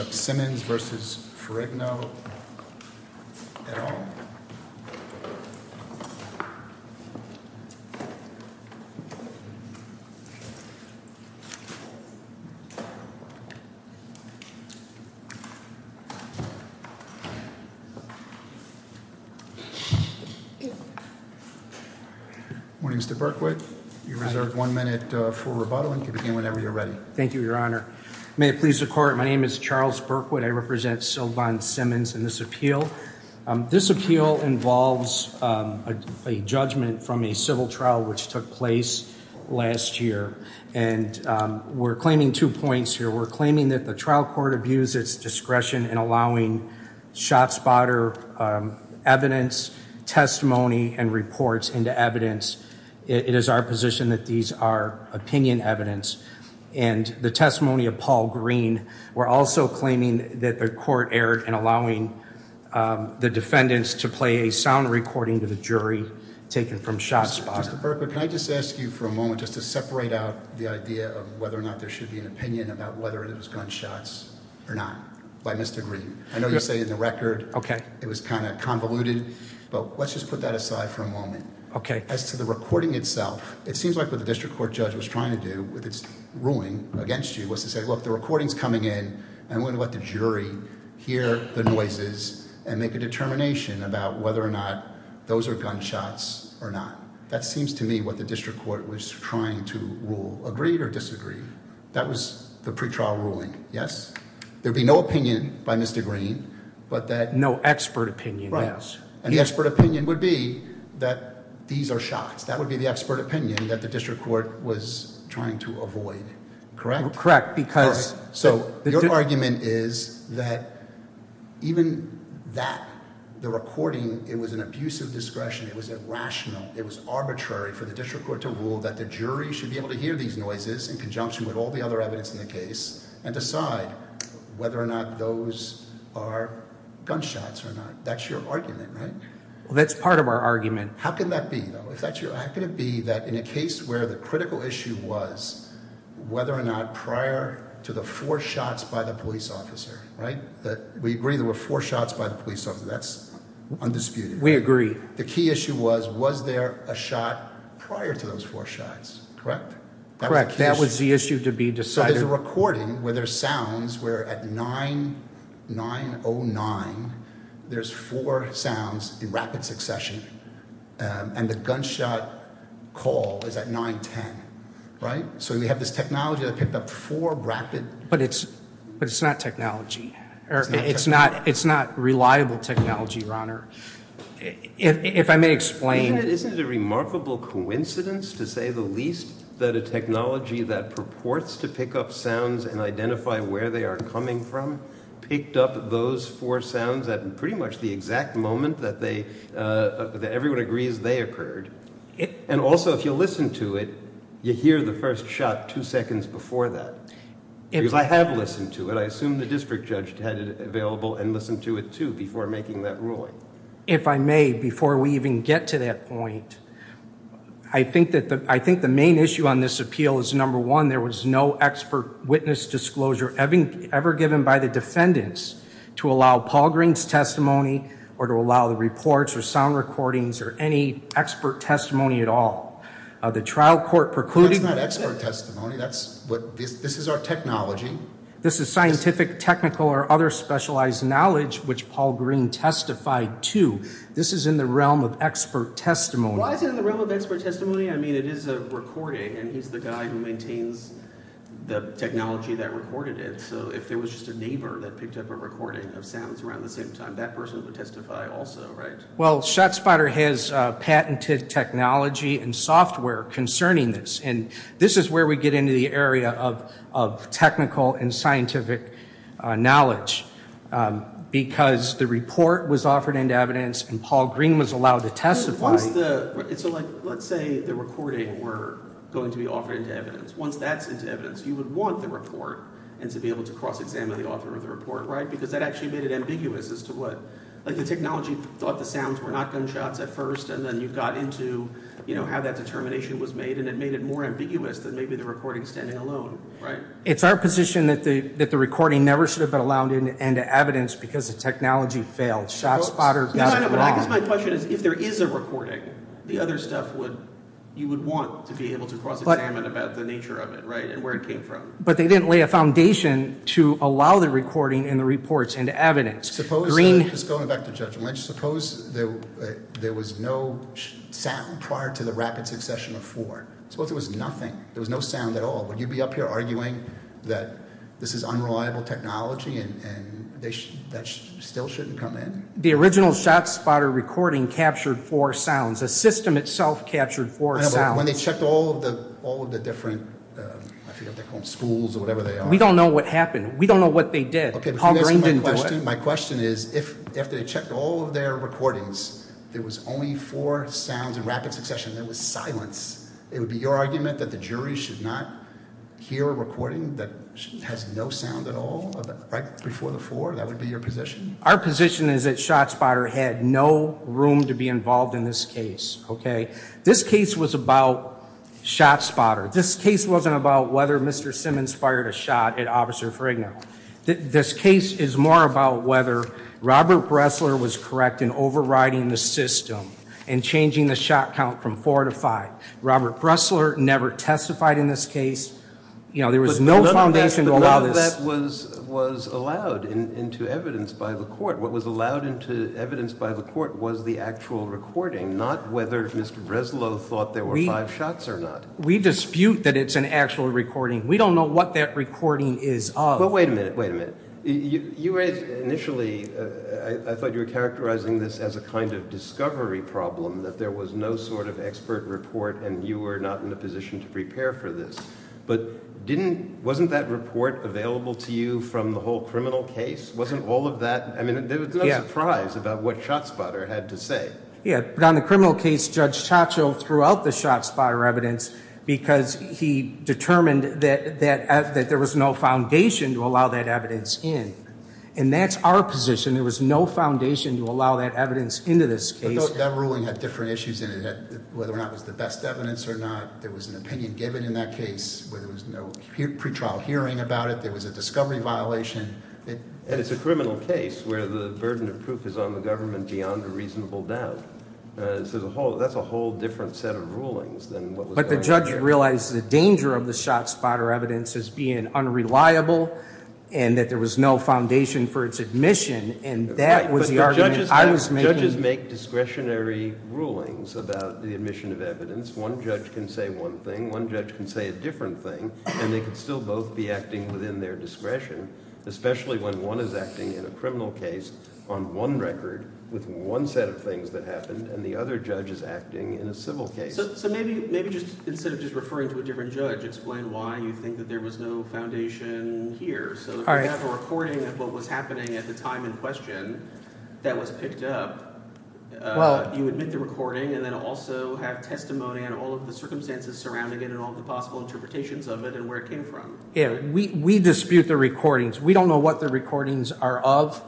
Good morning Mr. Berkowitz, you have one minute for rebuttal and you can begin whenever you're ready. Thank you your honor. May it please the court, my name is Charles Berkowitz, I represent Sylvan Simmons in this appeal. This appeal involves a judgment from a civil trial which took place last year and we're claiming two points here. We're claiming that the trial court abused its discretion in allowing shot spotter evidence, testimony, and reports into evidence. It is our position that these are opinion evidence and the testimony of Paul Green we're also claiming that the court erred in allowing the defendants to play a sound recording to the jury taken from shot spotter. Mr. Berkowitz, can I just ask you for a moment just to separate out the idea of whether or not there should be an opinion about whether it was gunshots or not by Mr. Green. I know you say in the record it was kind of convoluted but let's just put that aside for a moment. Okay. As to the recording itself, it seems like what the district court judge was trying to do with its ruling against you was to say look the recording's coming in and we're going to let the jury hear the noises and make a determination about whether or not those are gunshots or not. That seems to me what the district court was trying to rule. Agreed or disagreed? That was the pretrial ruling, yes? There would be no opinion by Mr. Green. No expert opinion. And the expert opinion would be that these are shots. That would be the expert opinion that the district court was trying to avoid. Correct? Correct. So your argument is that even that, the recording, it was an abuse of discretion, it was irrational, it was arbitrary for the district court to rule that the jury should be able to hear these noises in conjunction with all the other evidence in the case and decide whether or not those are gunshots or not. That's your argument, right? That's part of our argument. How can that be, though? How can it be that in a case where the critical issue was whether or not prior to the four shots by the police officer, right? We agree there were four shots by the police officer. That's undisputed. We agree. The key issue was was there a shot prior to those four shots, correct? Correct. That was the issue to be decided. So there's a recording where there's sounds where at 9-9-0-9 there's four sounds in rapid succession and the gunshot call is at 9-10, right? So we have this technology that picked up four rapid... But it's not technology. It's not reliable technology, Your Honor. If I may explain... Isn't it a remarkable coincidence to say the least that a technology that purports to pick up sounds and identify where they are coming from picked up those four sounds at pretty much the exact moment that everyone agrees they occurred? Also, if you listen to it, you hear the first shot two seconds before that. Because I have listened to it. I assume the district judge had it available and listened to it, too, before making that ruling. If I may, before we even get to that point, I think the main issue on this appeal is, number one, there was no expert witness disclosure ever given by the defendants to allow Paul Green's testimony or to allow the reports or sound recordings or any expert testimony at all. The trial court... That's not expert testimony. This is our technology. This is scientific, technical, or other specialized knowledge which Paul Green testified to. This is in the realm of expert testimony. Why is it in the realm of expert testimony? I mean, it is a recording, and he's the guy who maintains the technology that recorded it. So if there was just a neighbor that picked up a recording of sounds around the same time, that person would testify also, right? Well, ShotSpotter has patented technology and software concerning this, and this is where we get into the area of technical and scientific knowledge. Because the report was offered into evidence, and Paul Green was allowed to testify... Let's say the recording were going to be offered into evidence. Once that's into evidence, you would want the report and to be able to cross-examine the author of the report, right? Because that actually made it ambiguous as to what... The technology thought the sounds were not gunshots at first, and then you got into how that determination was made, and it made it more ambiguous than maybe the recording standing alone, right? It's our position that the recording never should have been allowed into evidence because the technology failed. ShotSpotter got it wrong. No, no, no, but I guess my question is, if there is a recording, the other stuff would... You would want to be able to cross-examine about the nature of it, right, and where it came from. But they didn't lay a foundation to allow the recording and the reports into evidence. Suppose... Just going back to judgment, suppose there was no sound prior to the rapid succession of four. Suppose there was nothing. There was no sound at all. Would you be up here arguing that this is unreliable technology and that still shouldn't come in? The original ShotSpotter recording captured four sounds. The system itself captured four When they checked all of the different... I forget what they call them, schools or whatever they are. We don't know what happened. We don't know what they did. Okay, but can you answer my question? My question is, if they checked all of their recordings, there was only four sounds in the rapid succession, there was silence, it would be your argument that the jury should not hear a recording that has no sound at all, right before the four? That would be your position? Our position is that ShotSpotter had no room to be involved in this case, okay? This case was about ShotSpotter. This case wasn't about whether Mr. Simmons fired a shot at Officer Fragno. This case is more about whether Robert Bressler was correct in overriding the system and changing the shot count from four to five. Robert Bressler never testified in this case. You know, there was no foundation to allow this... But none of that was allowed into evidence by the court. What was allowed into evidence by the court was the actual recording, not whether Mr. Bressler thought there were five shots or not. We dispute that it's an actual recording. We don't know what that recording is of. But wait a minute, wait a minute. You raised initially, I thought you were characterizing this as a kind of discovery problem, that there was no sort of expert report and you were not in a position to prepare for this. But wasn't that report available to you from the whole criminal case? Wasn't all of that... I mean, there was no surprise about what ShotSpotter had to say. Yeah, but on the criminal case, Judge Taccio threw out the ShotSpotter evidence because he determined that there was no foundation to allow that evidence in. And that's our position. There was no foundation to allow that evidence into this case. That ruling had different issues in it, whether or not it was the best evidence or not. There was an opinion given in that case where there was no pre-trial hearing about it. There was a discovery violation. And it's a criminal case where the burden of proof is on the government beyond a reasonable doubt. So that's a whole different set of rulings than what was going on there. But the judge realized the danger of the ShotSpotter evidence as being unreliable and that there was no foundation for its admission. And that was the argument I was making. Judges make discretionary rulings about the admission of evidence. One judge can say one thing. One judge can say a different thing. And they can still both be acting within their discretion, especially when one is acting in a criminal case on one record with one set of things that happened and the other judge is acting in a civil case. So maybe just instead of just referring to a different judge, explain why you think that there was no foundation here. We have a recording of what was happening at the time in question that was picked up. You admit the recording and then also have testimony on all of the circumstances surrounding it and all of the possible interpretations of it and where it came from. We dispute the recordings. We don't know what the recordings are of.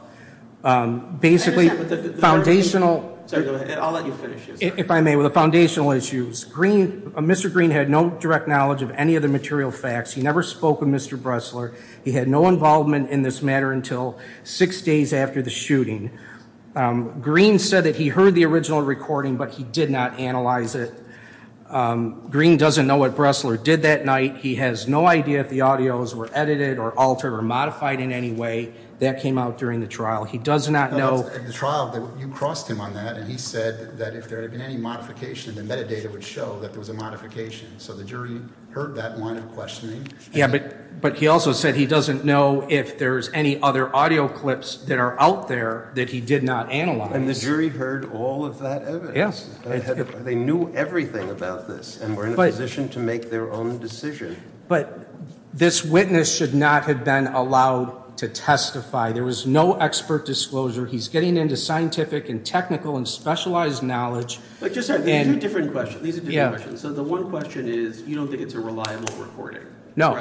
Basically, foundational... I'll let you finish. If I may, with the foundational issues, Mr. Green had no direct knowledge of any of the material facts. He never spoke with Mr. Bressler. He had no involvement in this matter until six days after the shooting. Green said that he heard the original recording, but he did not analyze it. Green doesn't know what Bressler did that night. He has no idea if the audios were edited or altered or modified in any way. That came out during the trial. He does not know... At the trial, you crossed him on that and he said that if there had been any modification, the metadata would show that there was a modification. So the jury heard that line of questioning. Yeah, but he also said he doesn't know if there's any other audio clips that are out there that he did not analyze. And the jury heard all of that evidence. Yes. They knew everything about this and were in a position to make their own decision. But this witness should not have been allowed to testify. There was no expert disclosure. He's getting into scientific and technical and specialized knowledge. But just a different question. So the one question is, you don't think it's a reliable recording? No.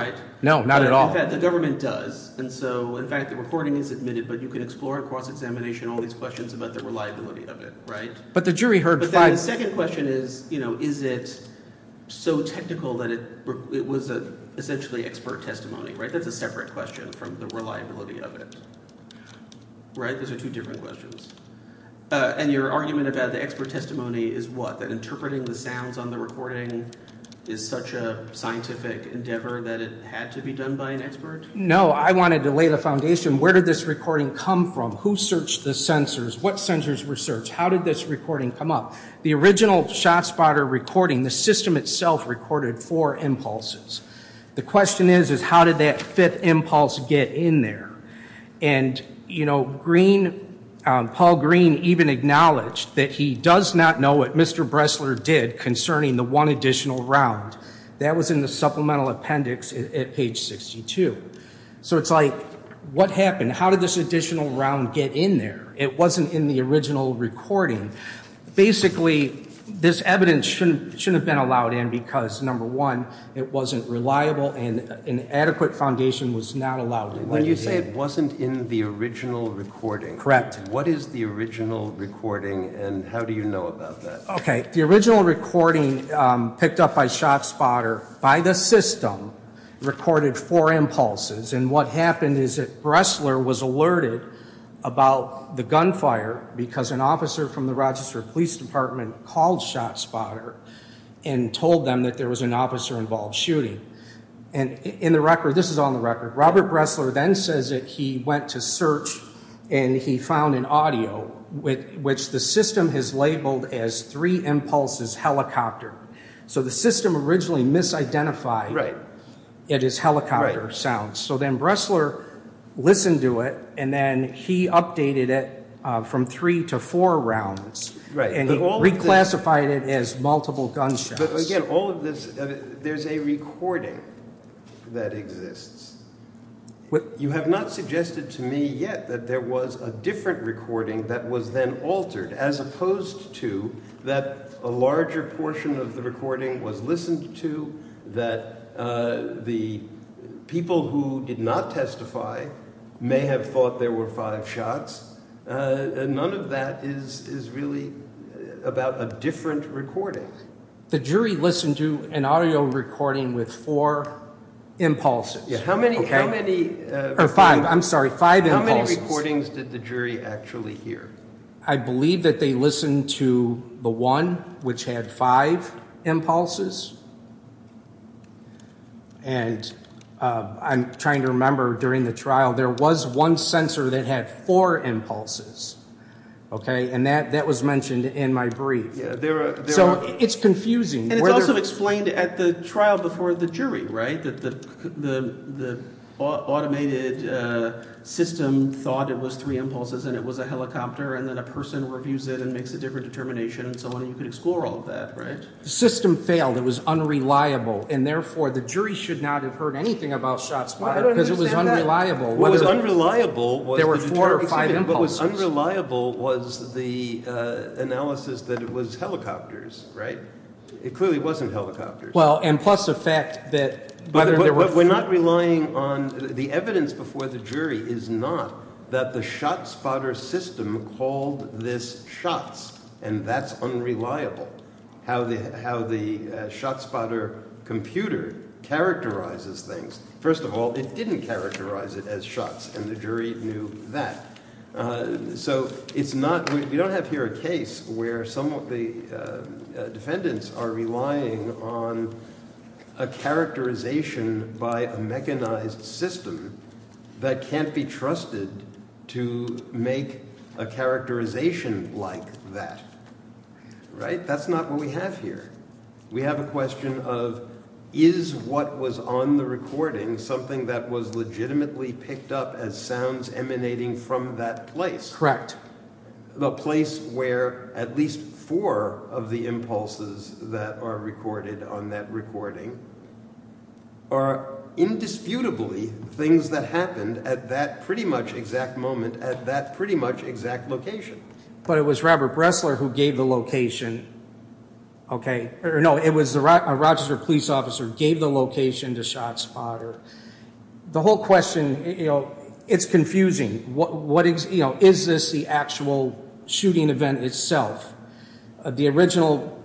No, not at all. In fact, the government does. And so, in fact, the recording is admitted, but you can explore across examination all these questions about the reliability of it, right? But the jury heard five... But then the second question is, you know, is it so technical that it was essentially expert testimony, right? That's a separate question from the reliability of it, right? Those are two different questions. And your argument about the expert testimony is what? That interpreting the sounds on the recording is such a scientific endeavor that it had to be done by an expert? No, I wanted to lay the foundation. Where did this recording come from? Who searched the sensors? What sensors were searched? How did this recording come up? The original ShotSpotter recording, the system itself recorded four impulses. The question is, is how did that fifth impulse get in there? And, you know, Paul Green even acknowledged that he does not know what Mr. Bressler did concerning the one additional round. That was in the supplemental appendix at page 62. So it's like, what happened? How did this additional round get in there? It wasn't in the original recording. Basically, this evidence shouldn't have been allowed in because, number one, it wasn't reliable and an adequate foundation was not allowed. When you say it wasn't in the original recording, what is the original recording and how do you know about that? The original recording picked up by ShotSpotter by the system recorded four impulses and what happened is that Bressler was alerted about the gunfire because an officer from the Rochester Police Department called ShotSpotter and told them that there was an officer involved shooting. This is on the record. Robert Bressler then says that he went to search and he found an audio which the system has labeled as three impulses helicopter. So the system originally misidentified it as helicopter sounds. So then Bressler listened to it and then he updated it from three to four rounds and he reclassified it as multiple gunshots. But again, all of this, there's a recording that exists. You have not suggested to me yet that there was a different recording that was then altered as opposed to that a larger portion of the recording was listened to, that the people who did not testify may have thought there were five shots. None of that is really about a different recording. The jury listened to an audio recording with four impulses. How many recordings did the jury actually hear? I believe that they listened to the one which had five impulses. And I'm trying to remember during the trial there was one sensor that had four impulses. And that was mentioned in my brief. So it's confusing. And it's also explained at the trial before the jury, right? That the automated system thought it was three impulses and it was a helicopter and then a person reviews it and makes a different determination and so on. You could explore all of that, right? The system failed. It was unreliable. And therefore the jury should not have heard anything about shots fired because it was unreliable. It was unreliable. There were four or five impulses. What was unreliable was the analysis that it was helicopters, right? It clearly wasn't helicopters. Well, and plus the fact that... But we're not relying on... The evidence before the jury is not that the ShotSpotter system called this shots. And that's unreliable. How the ShotSpotter computer characterizes things. First of all, it didn't characterize it as shots. And the jury knew that. So it's not... We don't have here a case where some of the defendants are relying on a characterization by a mechanized system that can't be trusted to make a characterization like that. Right? That's not what we have here. We have a question of is what was on the recording something that was legitimately picked up as sounds emanating from that place? The place where at least four of the impulses that are recorded on that recording are indisputably things that happened at that pretty much exact moment at that pretty much exact location. But it was Robert Bressler who gave the location, OK? No, it was a Rochester police officer who gave the location to ShotSpotter. The whole question, it's confusing. Is this the actual shooting event itself? The original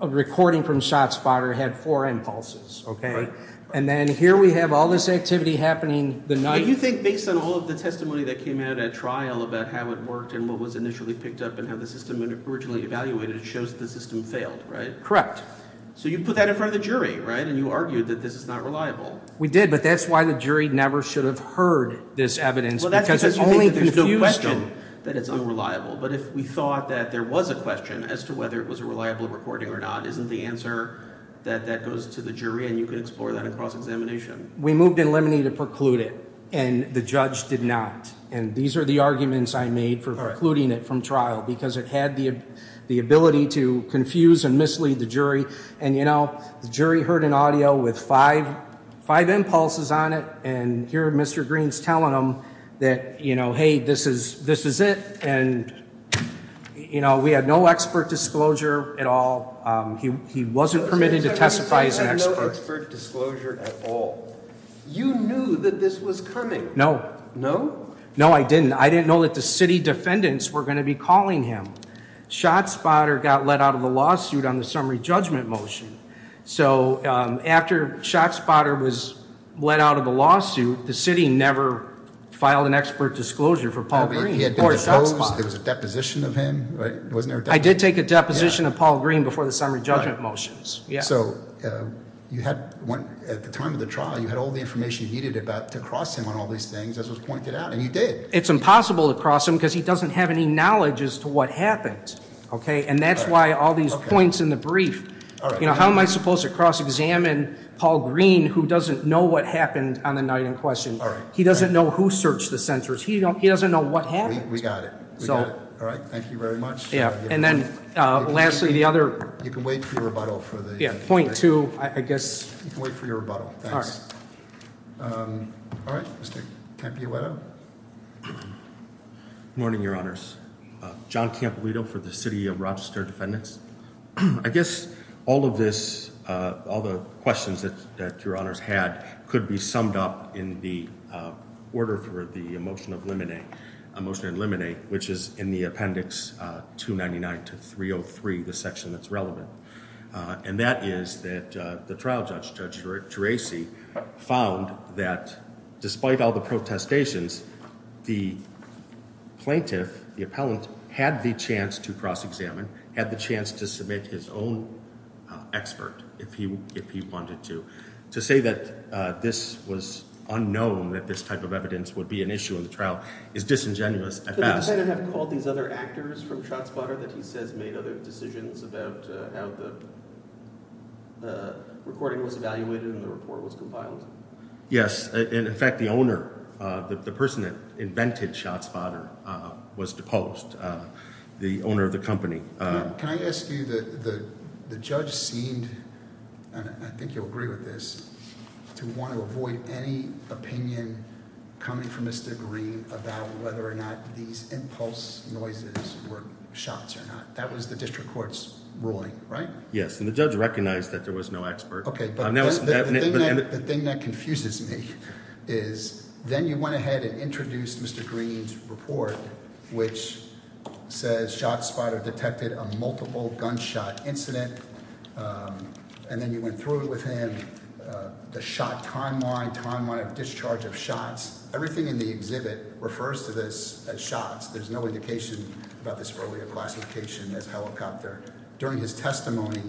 recording from ShotSpotter had four impulses, OK? And then here we have all this activity happening... You think based on all of the testimony that came out at trial about how it worked and what was initially picked up and how the system was originally evaluated shows the system failed, right? Correct. So you put that in front of the jury, right? And you argued that this is not reliable. We did, but that's why the jury never should have heard this evidence because it's only confusing. There's no question that it's unreliable. But if we thought that there was a question as to whether it was a reliable recording or not, isn't the answer that that goes to the jury and you can explore that in cross-examination? We moved in limine to preclude it and the judge did not. And these are the arguments I made for precluding it from trial because it had the ability to confuse and mislead the jury and, you know, the jury heard an audio with five impulses on it and here Mr. Green's telling them that, you know, hey, this is it and, you know, we had no expert disclosure at all. He wasn't permitted to testify as an expert. You said you had no expert disclosure at all. You knew that this was coming. No. No? No, I didn't. I didn't know that the city defendants were going to be calling him. ShotSpotter got let out of the lawsuit on the summary judgment motion. So after ShotSpotter was let out of the lawsuit, the city never filed an expert disclosure for Paul Green. He had been deposed. There was a deposition of him, right? I did take a deposition of Paul Green before the summary judgment motions. So you had, at the time of the trial, you had all the information you needed about to cross him on all these things as was pointed out and you did. It's impossible to cross him because he doesn't have any knowledge as to what happened. Okay? And that's why all these points in the brief. You know, how am I supposed to cross-examine Paul Green who doesn't know what happened on the night in question? He doesn't know who searched the sensors. He doesn't know what happened. We got it. All right. Thank you very much. Yeah. And then, lastly, the other- You can wait for your rebuttal for the- Point two, I guess. You can wait for your rebuttal. All right. All right. Mr. Campolieto. Good morning, Your Honors. John Campolieto for the City of Rochester Defendants. I guess all of this, all the questions that Your Honors had, could be summed up in the order for the motion of limine, a motion in limine, which is in the appendix 299 to 303, the section that's relevant. And that is that the trial judge, Judge Gerasi, found that despite all the protestations, the plaintiff, the appellant, had the chance to cross-examine, had the chance to submit his own expert if he wanted to. To say that this was unknown, that this type of evidence would be an issue in the trial, is disingenuous at best. Did the defendant have to call these other actors from ShotSpotter that he says made other decisions about how the recording was evaluated and the report was compiled? Yes. In fact, the owner, the person that invented ShotSpotter, was deposed, the owner of the company. Now, can I ask you, the judge seemed, and I think you'll agree with this, to want to avoid any opinion coming from Mr. Green about whether or not these impulse noises were shots or not. That was the district court's ruling, right? Yes, and the judge recognized that there was no expert. Okay, but the thing that confuses me is then you went ahead and introduced Mr. Green's report which says ShotSpotter detected a multiple gunshot incident and then you went through with him the shot timeline, timeline of discharge of shots. Everything in the exhibit refers to this as shots. There's no indication about this earlier classification as helicopter. During his testimony,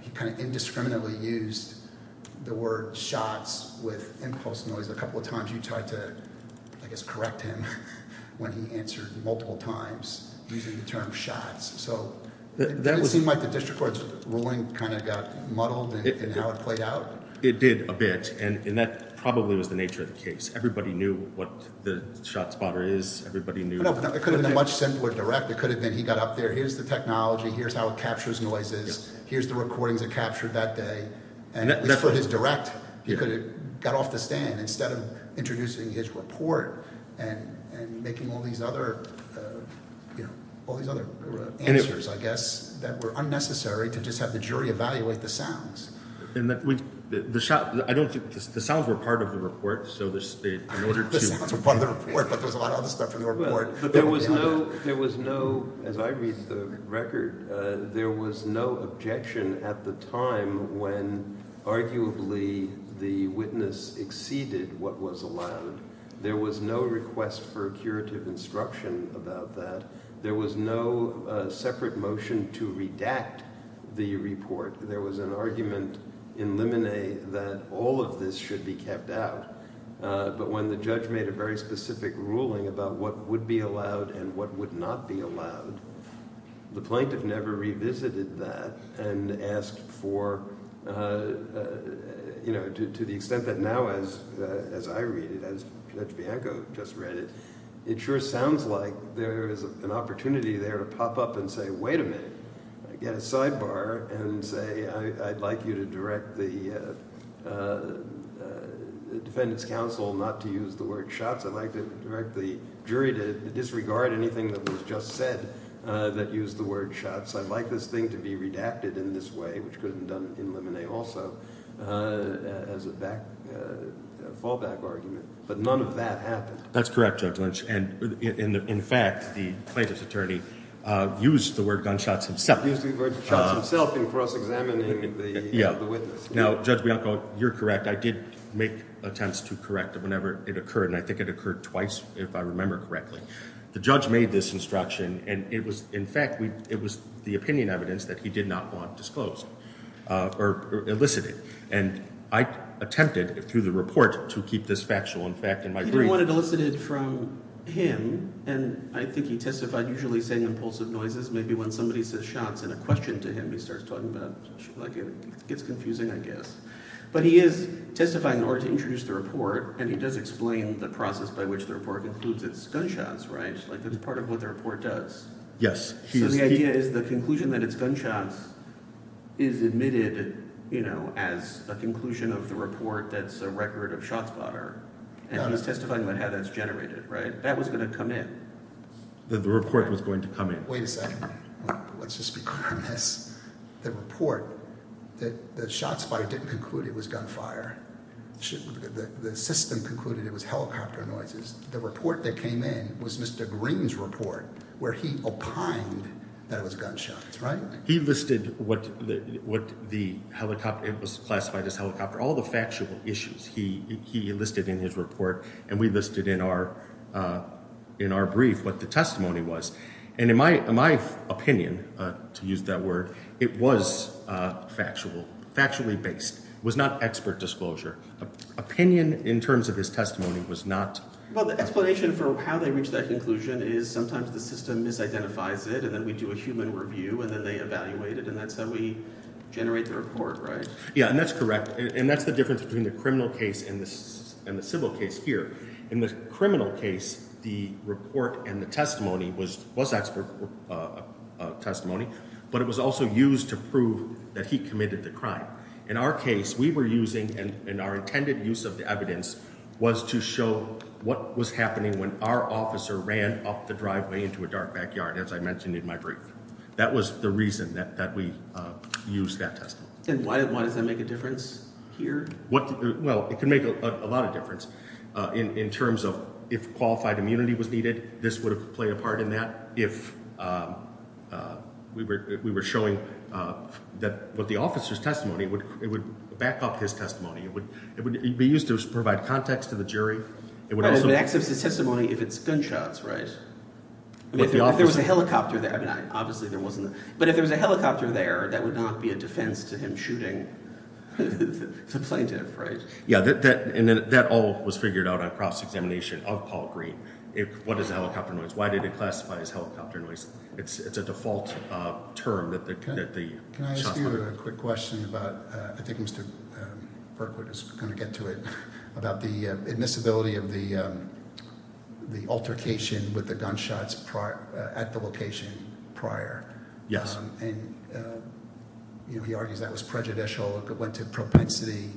he kind of indiscriminately used the word shots with impulse noise a couple of times. You tried to, I guess, correct him when he answered multiple times using the term shots. So, it seemed like the district court's ruling kind of got muddled in how it played out? It did a bit and that probably was the nature of the case. Everybody knew what the ShotSpotter is. It could have been a much simpler direct. It could have been he got up there, here's the technology, here's how it captures noises, here's the recordings it captured that day. And for his direct, he could have got off the stand instead of introducing his report and making all these other answers, I guess, that were unnecessary to just have the jury evaluate the sounds. The sounds were part of the report, so in order to... The sounds were part of the report, but there was a lot of other stuff in the report. There was no, as I read the record, there was no objection at the time when arguably the witness exceeded what was allowed. There was no request for curative instruction about that. There was no separate motion to redact the report. There was an argument in Lemonet that all of this should be kept out. But when the judge made a very specific ruling about what would be allowed and what would not be allowed, the plaintiff never revisited that and asked for, you know, to the extent that now, as I read it, as Pietro Bianco just read it, it sure sounds like there is an opportunity there to pop up and say, wait a minute, get a sidebar and say, I'd like you to direct the defendant's counsel not to use the word shots. I'd like to direct the jury to disregard anything that was just said that used the word shots. I'd like this thing to be redacted in this way, which could have been done in Lemonet also, as a fallback argument. But none of that happened. That's correct, Judge Lynch. And in fact, the plaintiff's attorney used the word gunshots himself. Used the word shots himself in cross-examining the witness. Now, Judge Bianco, you're correct. I did make attempts to correct it whenever it occurred and I think it occurred twice, if I remember correctly. The judge made this instruction and it was, in fact, it was the opinion evidence that he did not want disclosed or elicited. And I attempted, through the report, to keep this factual. In fact, in my brief... He didn't want it elicited from him and I think he testified, usually saying impulsive noises, maybe when somebody says shots and a question to him, he starts talking about, like it gets confusing, I guess. But he is testifying in order to introduce the report and he does explain the process by which the report includes its gunshots, right? Like that's part of what the report does. So the idea is the conclusion that it's gunshots is admitted, you know, as a conclusion of the report that's a record of shotspotter and he's testifying about how that's generated, right? That was going to come in. The report was going to come in. Wait a second. Let's just be clear on this. The report, the shotspotter didn't conclude it was gunfire. The system concluded it was helicopter noises. The report that came in was Mr. Green's report where he opined that it was gunshots, right? He listed what the helicopter, it was classified as helicopter, all the factual issues he listed in his report and we listed in our brief what the testimony was. And in my opinion, to use that word, it was factual, factually based. It was not expert disclosure. Opinion in terms of his testimony was not... Well, the explanation for how they reached that conclusion is sometimes the system misidentifies it and then we do a human review and then they evaluate it and that's how we generate the report, right? Yeah, and that's correct. And that's the difference between the criminal case and the civil case here. In the criminal case, the report and the testimony was expert testimony but it was also used to prove that he committed the crime. In our case, what we were using and our intended use of the evidence was to show what was happening when our officer ran up the driveway into a dark backyard as I mentioned in my brief. That was the reason that we used that testimony. And why does that make a difference here? Well, it can make a lot of difference in terms of if qualified immunity was needed, this would have played a part in that. If we were showing what the officer's testimony it would back up his testimony. It would be used to provide context to the jury. But it would access his testimony if it's gunshots, right? I mean, if there was a helicopter there, obviously there wasn't. But if there was a helicopter there that would not be a defense to him shooting the plaintiff, right? Yeah, and that all was figured out on cross-examination of Paul Green. What is a helicopter noise? Why did it classify as helicopter noise? It's a default term that the shots were heard. Can I ask you a quick question about, I think Mr. Burkwood is going to get to it, about the admissibility of the altercation with the gunshots at the location prior. And he argues that was prejudicial, it went to propensity.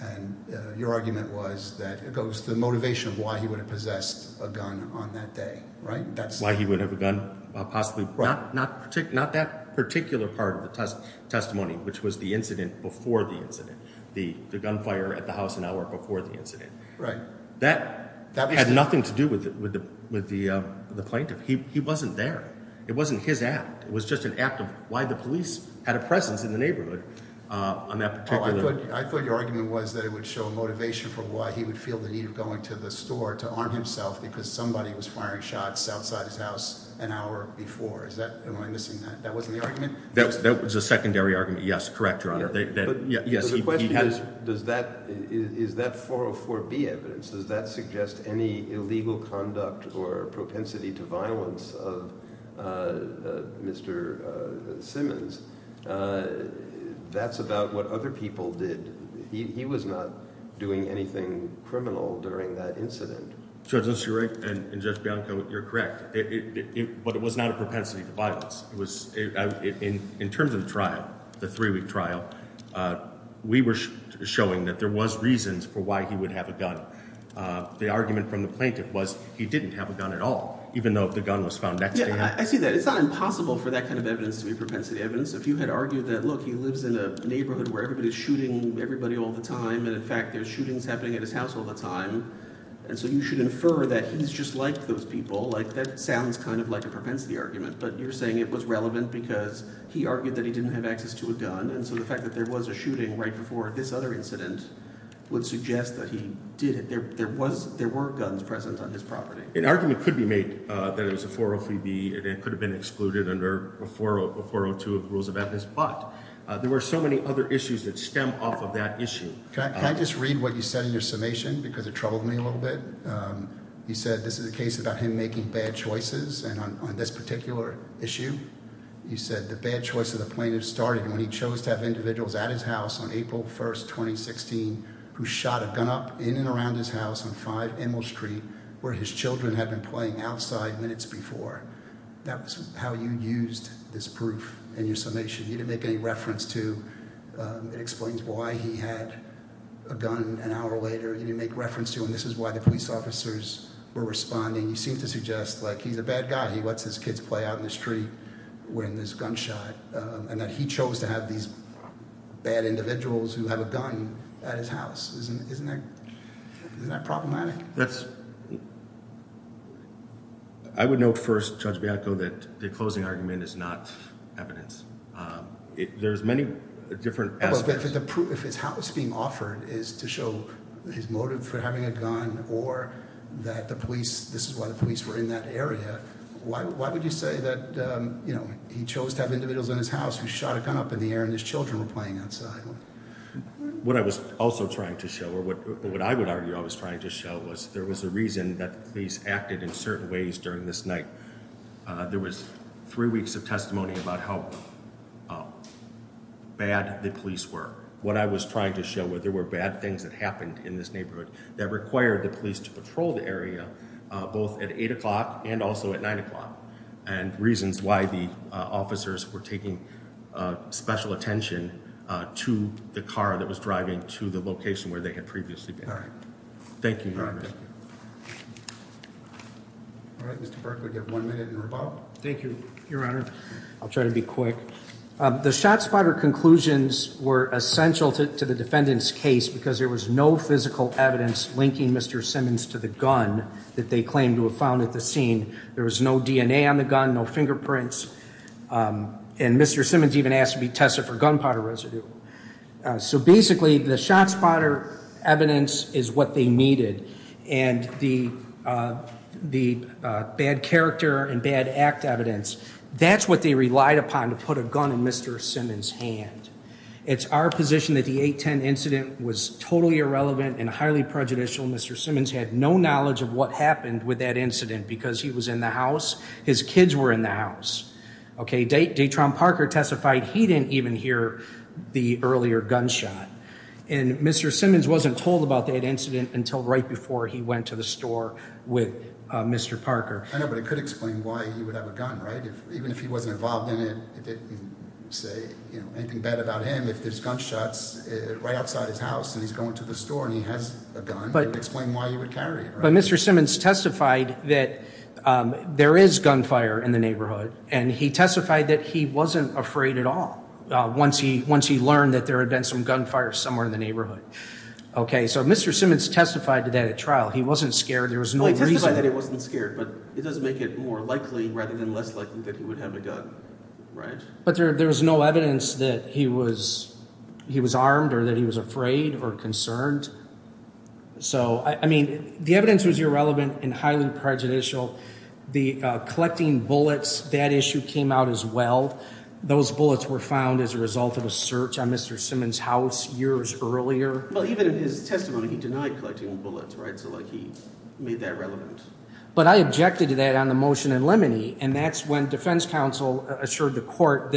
And your argument was that it goes to the motivation of why he would have possessed a gun on that day, right? Why he would have a gun possibly brought. Not that particular part of the testimony, which was the incident before the incident. The gunfire at the house an hour before the incident. Right. That had nothing to do with the plaintiff. He wasn't there. It wasn't his act. It was just an act of why the police had a presence in the neighborhood on that particular... Oh, I thought your argument was that it would show motivation for why he would feel the need of going to the store to arm himself because somebody was firing shots outside his house an hour before. Am I missing that? That wasn't the argument? That was the secondary argument. Correct, Your Honor. But the question is, is that 404B evidence? Does that suggest any illegal conduct or propensity to violence of Mr. Simmons? That's about what other people did. He was not doing anything criminal during that incident. Judge Nusseri and Judge Bianco, you're correct. But it was not a propensity to violence. It was, in my opinion, In terms of the trial, the three-week trial, we were showing that there was reasons for why he would have a gun. The argument from the plaintiff was he didn't have a gun at all, even though the gun was found next to him. I see that. It's not impossible for that kind of evidence to be propensity evidence. If you had argued that, look, he lives in a neighborhood where everybody's shooting everybody all the time and, in fact, there's shootings happening at his house all the time and so you should infer that he's just like those people, like that sounds kind of like a propensity argument. But you're saying it was relevant because he argued that he didn't have access to a gun and so the fact that there was a shooting right before this other incident would suggest that he did it. There were guns present on his property. An argument could be made that it was a 403B and it could have been excluded under a 402 of the rules of evidence but there were so many other issues that stem off of that issue. Can I just read what you said in your summation because it troubled me a little bit. You said this is a case about him making bad choices and on this particular issue you said the bad choice of the plaintiff started when he chose to have individuals at his house on April 1, 2016 who shot a gun up in and around his house on 5 Emil Street where his children had been playing outside minutes before. That's how you used this proof in your summation. You didn't make any reference to it explains why he had a gun an hour later. You didn't make reference to and this is why the police officers were responding. You seem to suggest like he's a bad guy he lets his kids play out in the street wearing this gunshot and that he chose to have these bad individuals who have a gun at his house. Isn't that problematic? That's I would note first, Judge Bianco, that the closing argument is not evidence. There's many different aspects. But if the proof if his house being offered is to show his motive for having a gun or that the police this is why the police were in that area why would you say that you know he chose to have individuals in his house who shot a gun up in the air and his children were playing outside. What I was also trying to show or what I would argue I was trying to show was there was a reason that the police acted in certain ways during this night. There was three weeks of testimony about how bad the police were. What I was trying to show were there were bad things that happened in this neighborhood that required the police to patrol the area both at 8 o'clock and also at 9 o'clock and reasons why the officers were taking special attention to the car that was driving to the location where they had previously been. Thank you. All right. Mr. Berkley you have one minute to respond. Thank you, your honor. I'll try to be quick. The shot spotter conclusions were essential to the defendant's case because there was no physical evidence linking Mr. Simmons to the gun that they claimed to have found at the scene. There was no DNA on the gun, no fingerprints and Mr. Simmons even asked to be tested for gunpowder residue. So basically the shot spotter evidence is what they needed and the bad character and bad behavior and bad act evidence that's what they relied upon to put a gun in Mr. Simmons' hand. It's our position that the 810 incident was totally irrelevant and highly prejudicial. Mr. Simmons had no knowledge of what happened with that incident because he was in the house. His kids were in the house. Detron Parker testified he didn't even hear the earlier gunshot and Mr. Simmons wasn't told about that incident until right before he went to the store with Mr. Parker. I know but it could explain why he was have a gun right? Even if he wasn't involved in it it didn't say anything bad about him if there's gunshots right outside his house and he's going to the store and he has a gun it would explain why he would carry it. But Mr. Simmons testified that there is gunfire in the neighborhood and he testified that he wasn't afraid at all once he once he learned that there had been some gunfire somewhere in the neighborhood. Okay so Mr. Simmons testified to that at trial he wasn't scared there was no reason Well he testified to make it more likely rather than less likely that he would have a gun right? But there was no evidence that he was he was armed or that he was afraid or concerned so I mean the evidence was irrelevant and highly prejudicial the collecting bullets that issue came out as well those bullets were found as a result of a search on Mr. Simmons house years earlier Well even in his testimony he denied collecting bullets right? So like he made that relevant But I objected to that on the motion in Lemony and that's when defense counsel assured the court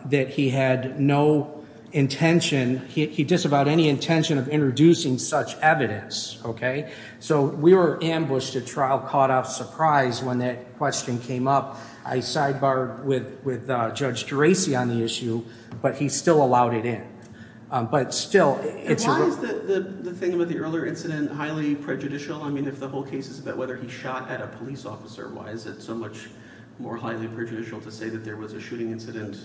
that he had no intention he disavowed any intention of introducing such evidence okay? So we were ambushed at trial caught off surprise when that question came up I sidebar with Judge DeRacy on the issue but he still allowed it in but still Why is the thing about the earlier incident highly prejudicial I mean if the whole case is about whether he shot at a police officer why is it so much more highly prejudicial to say that there was a shooting incident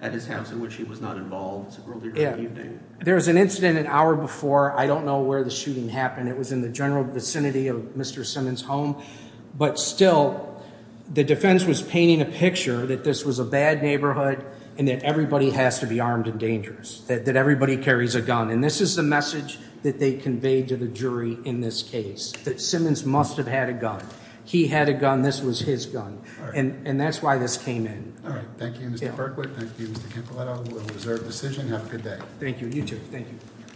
at his house in which he was not involved earlier in the evening There was an incident an hour before I don't know where the shooting happened it was in the general vicinity of Mr. Simmons home but still the defense was painting a picture that this was a bad neighborhood and that everybody has to be armed and dangerous that everybody carries a gun and this is the message that they conveyed to the jury in this case that Simmons must have had a gun he had a gun this was his gun and that's why this came in Thank you Mr. Berkley Thank you Mr. Campilotto It was a reserved decision Have a good day Thank you, you too Thank you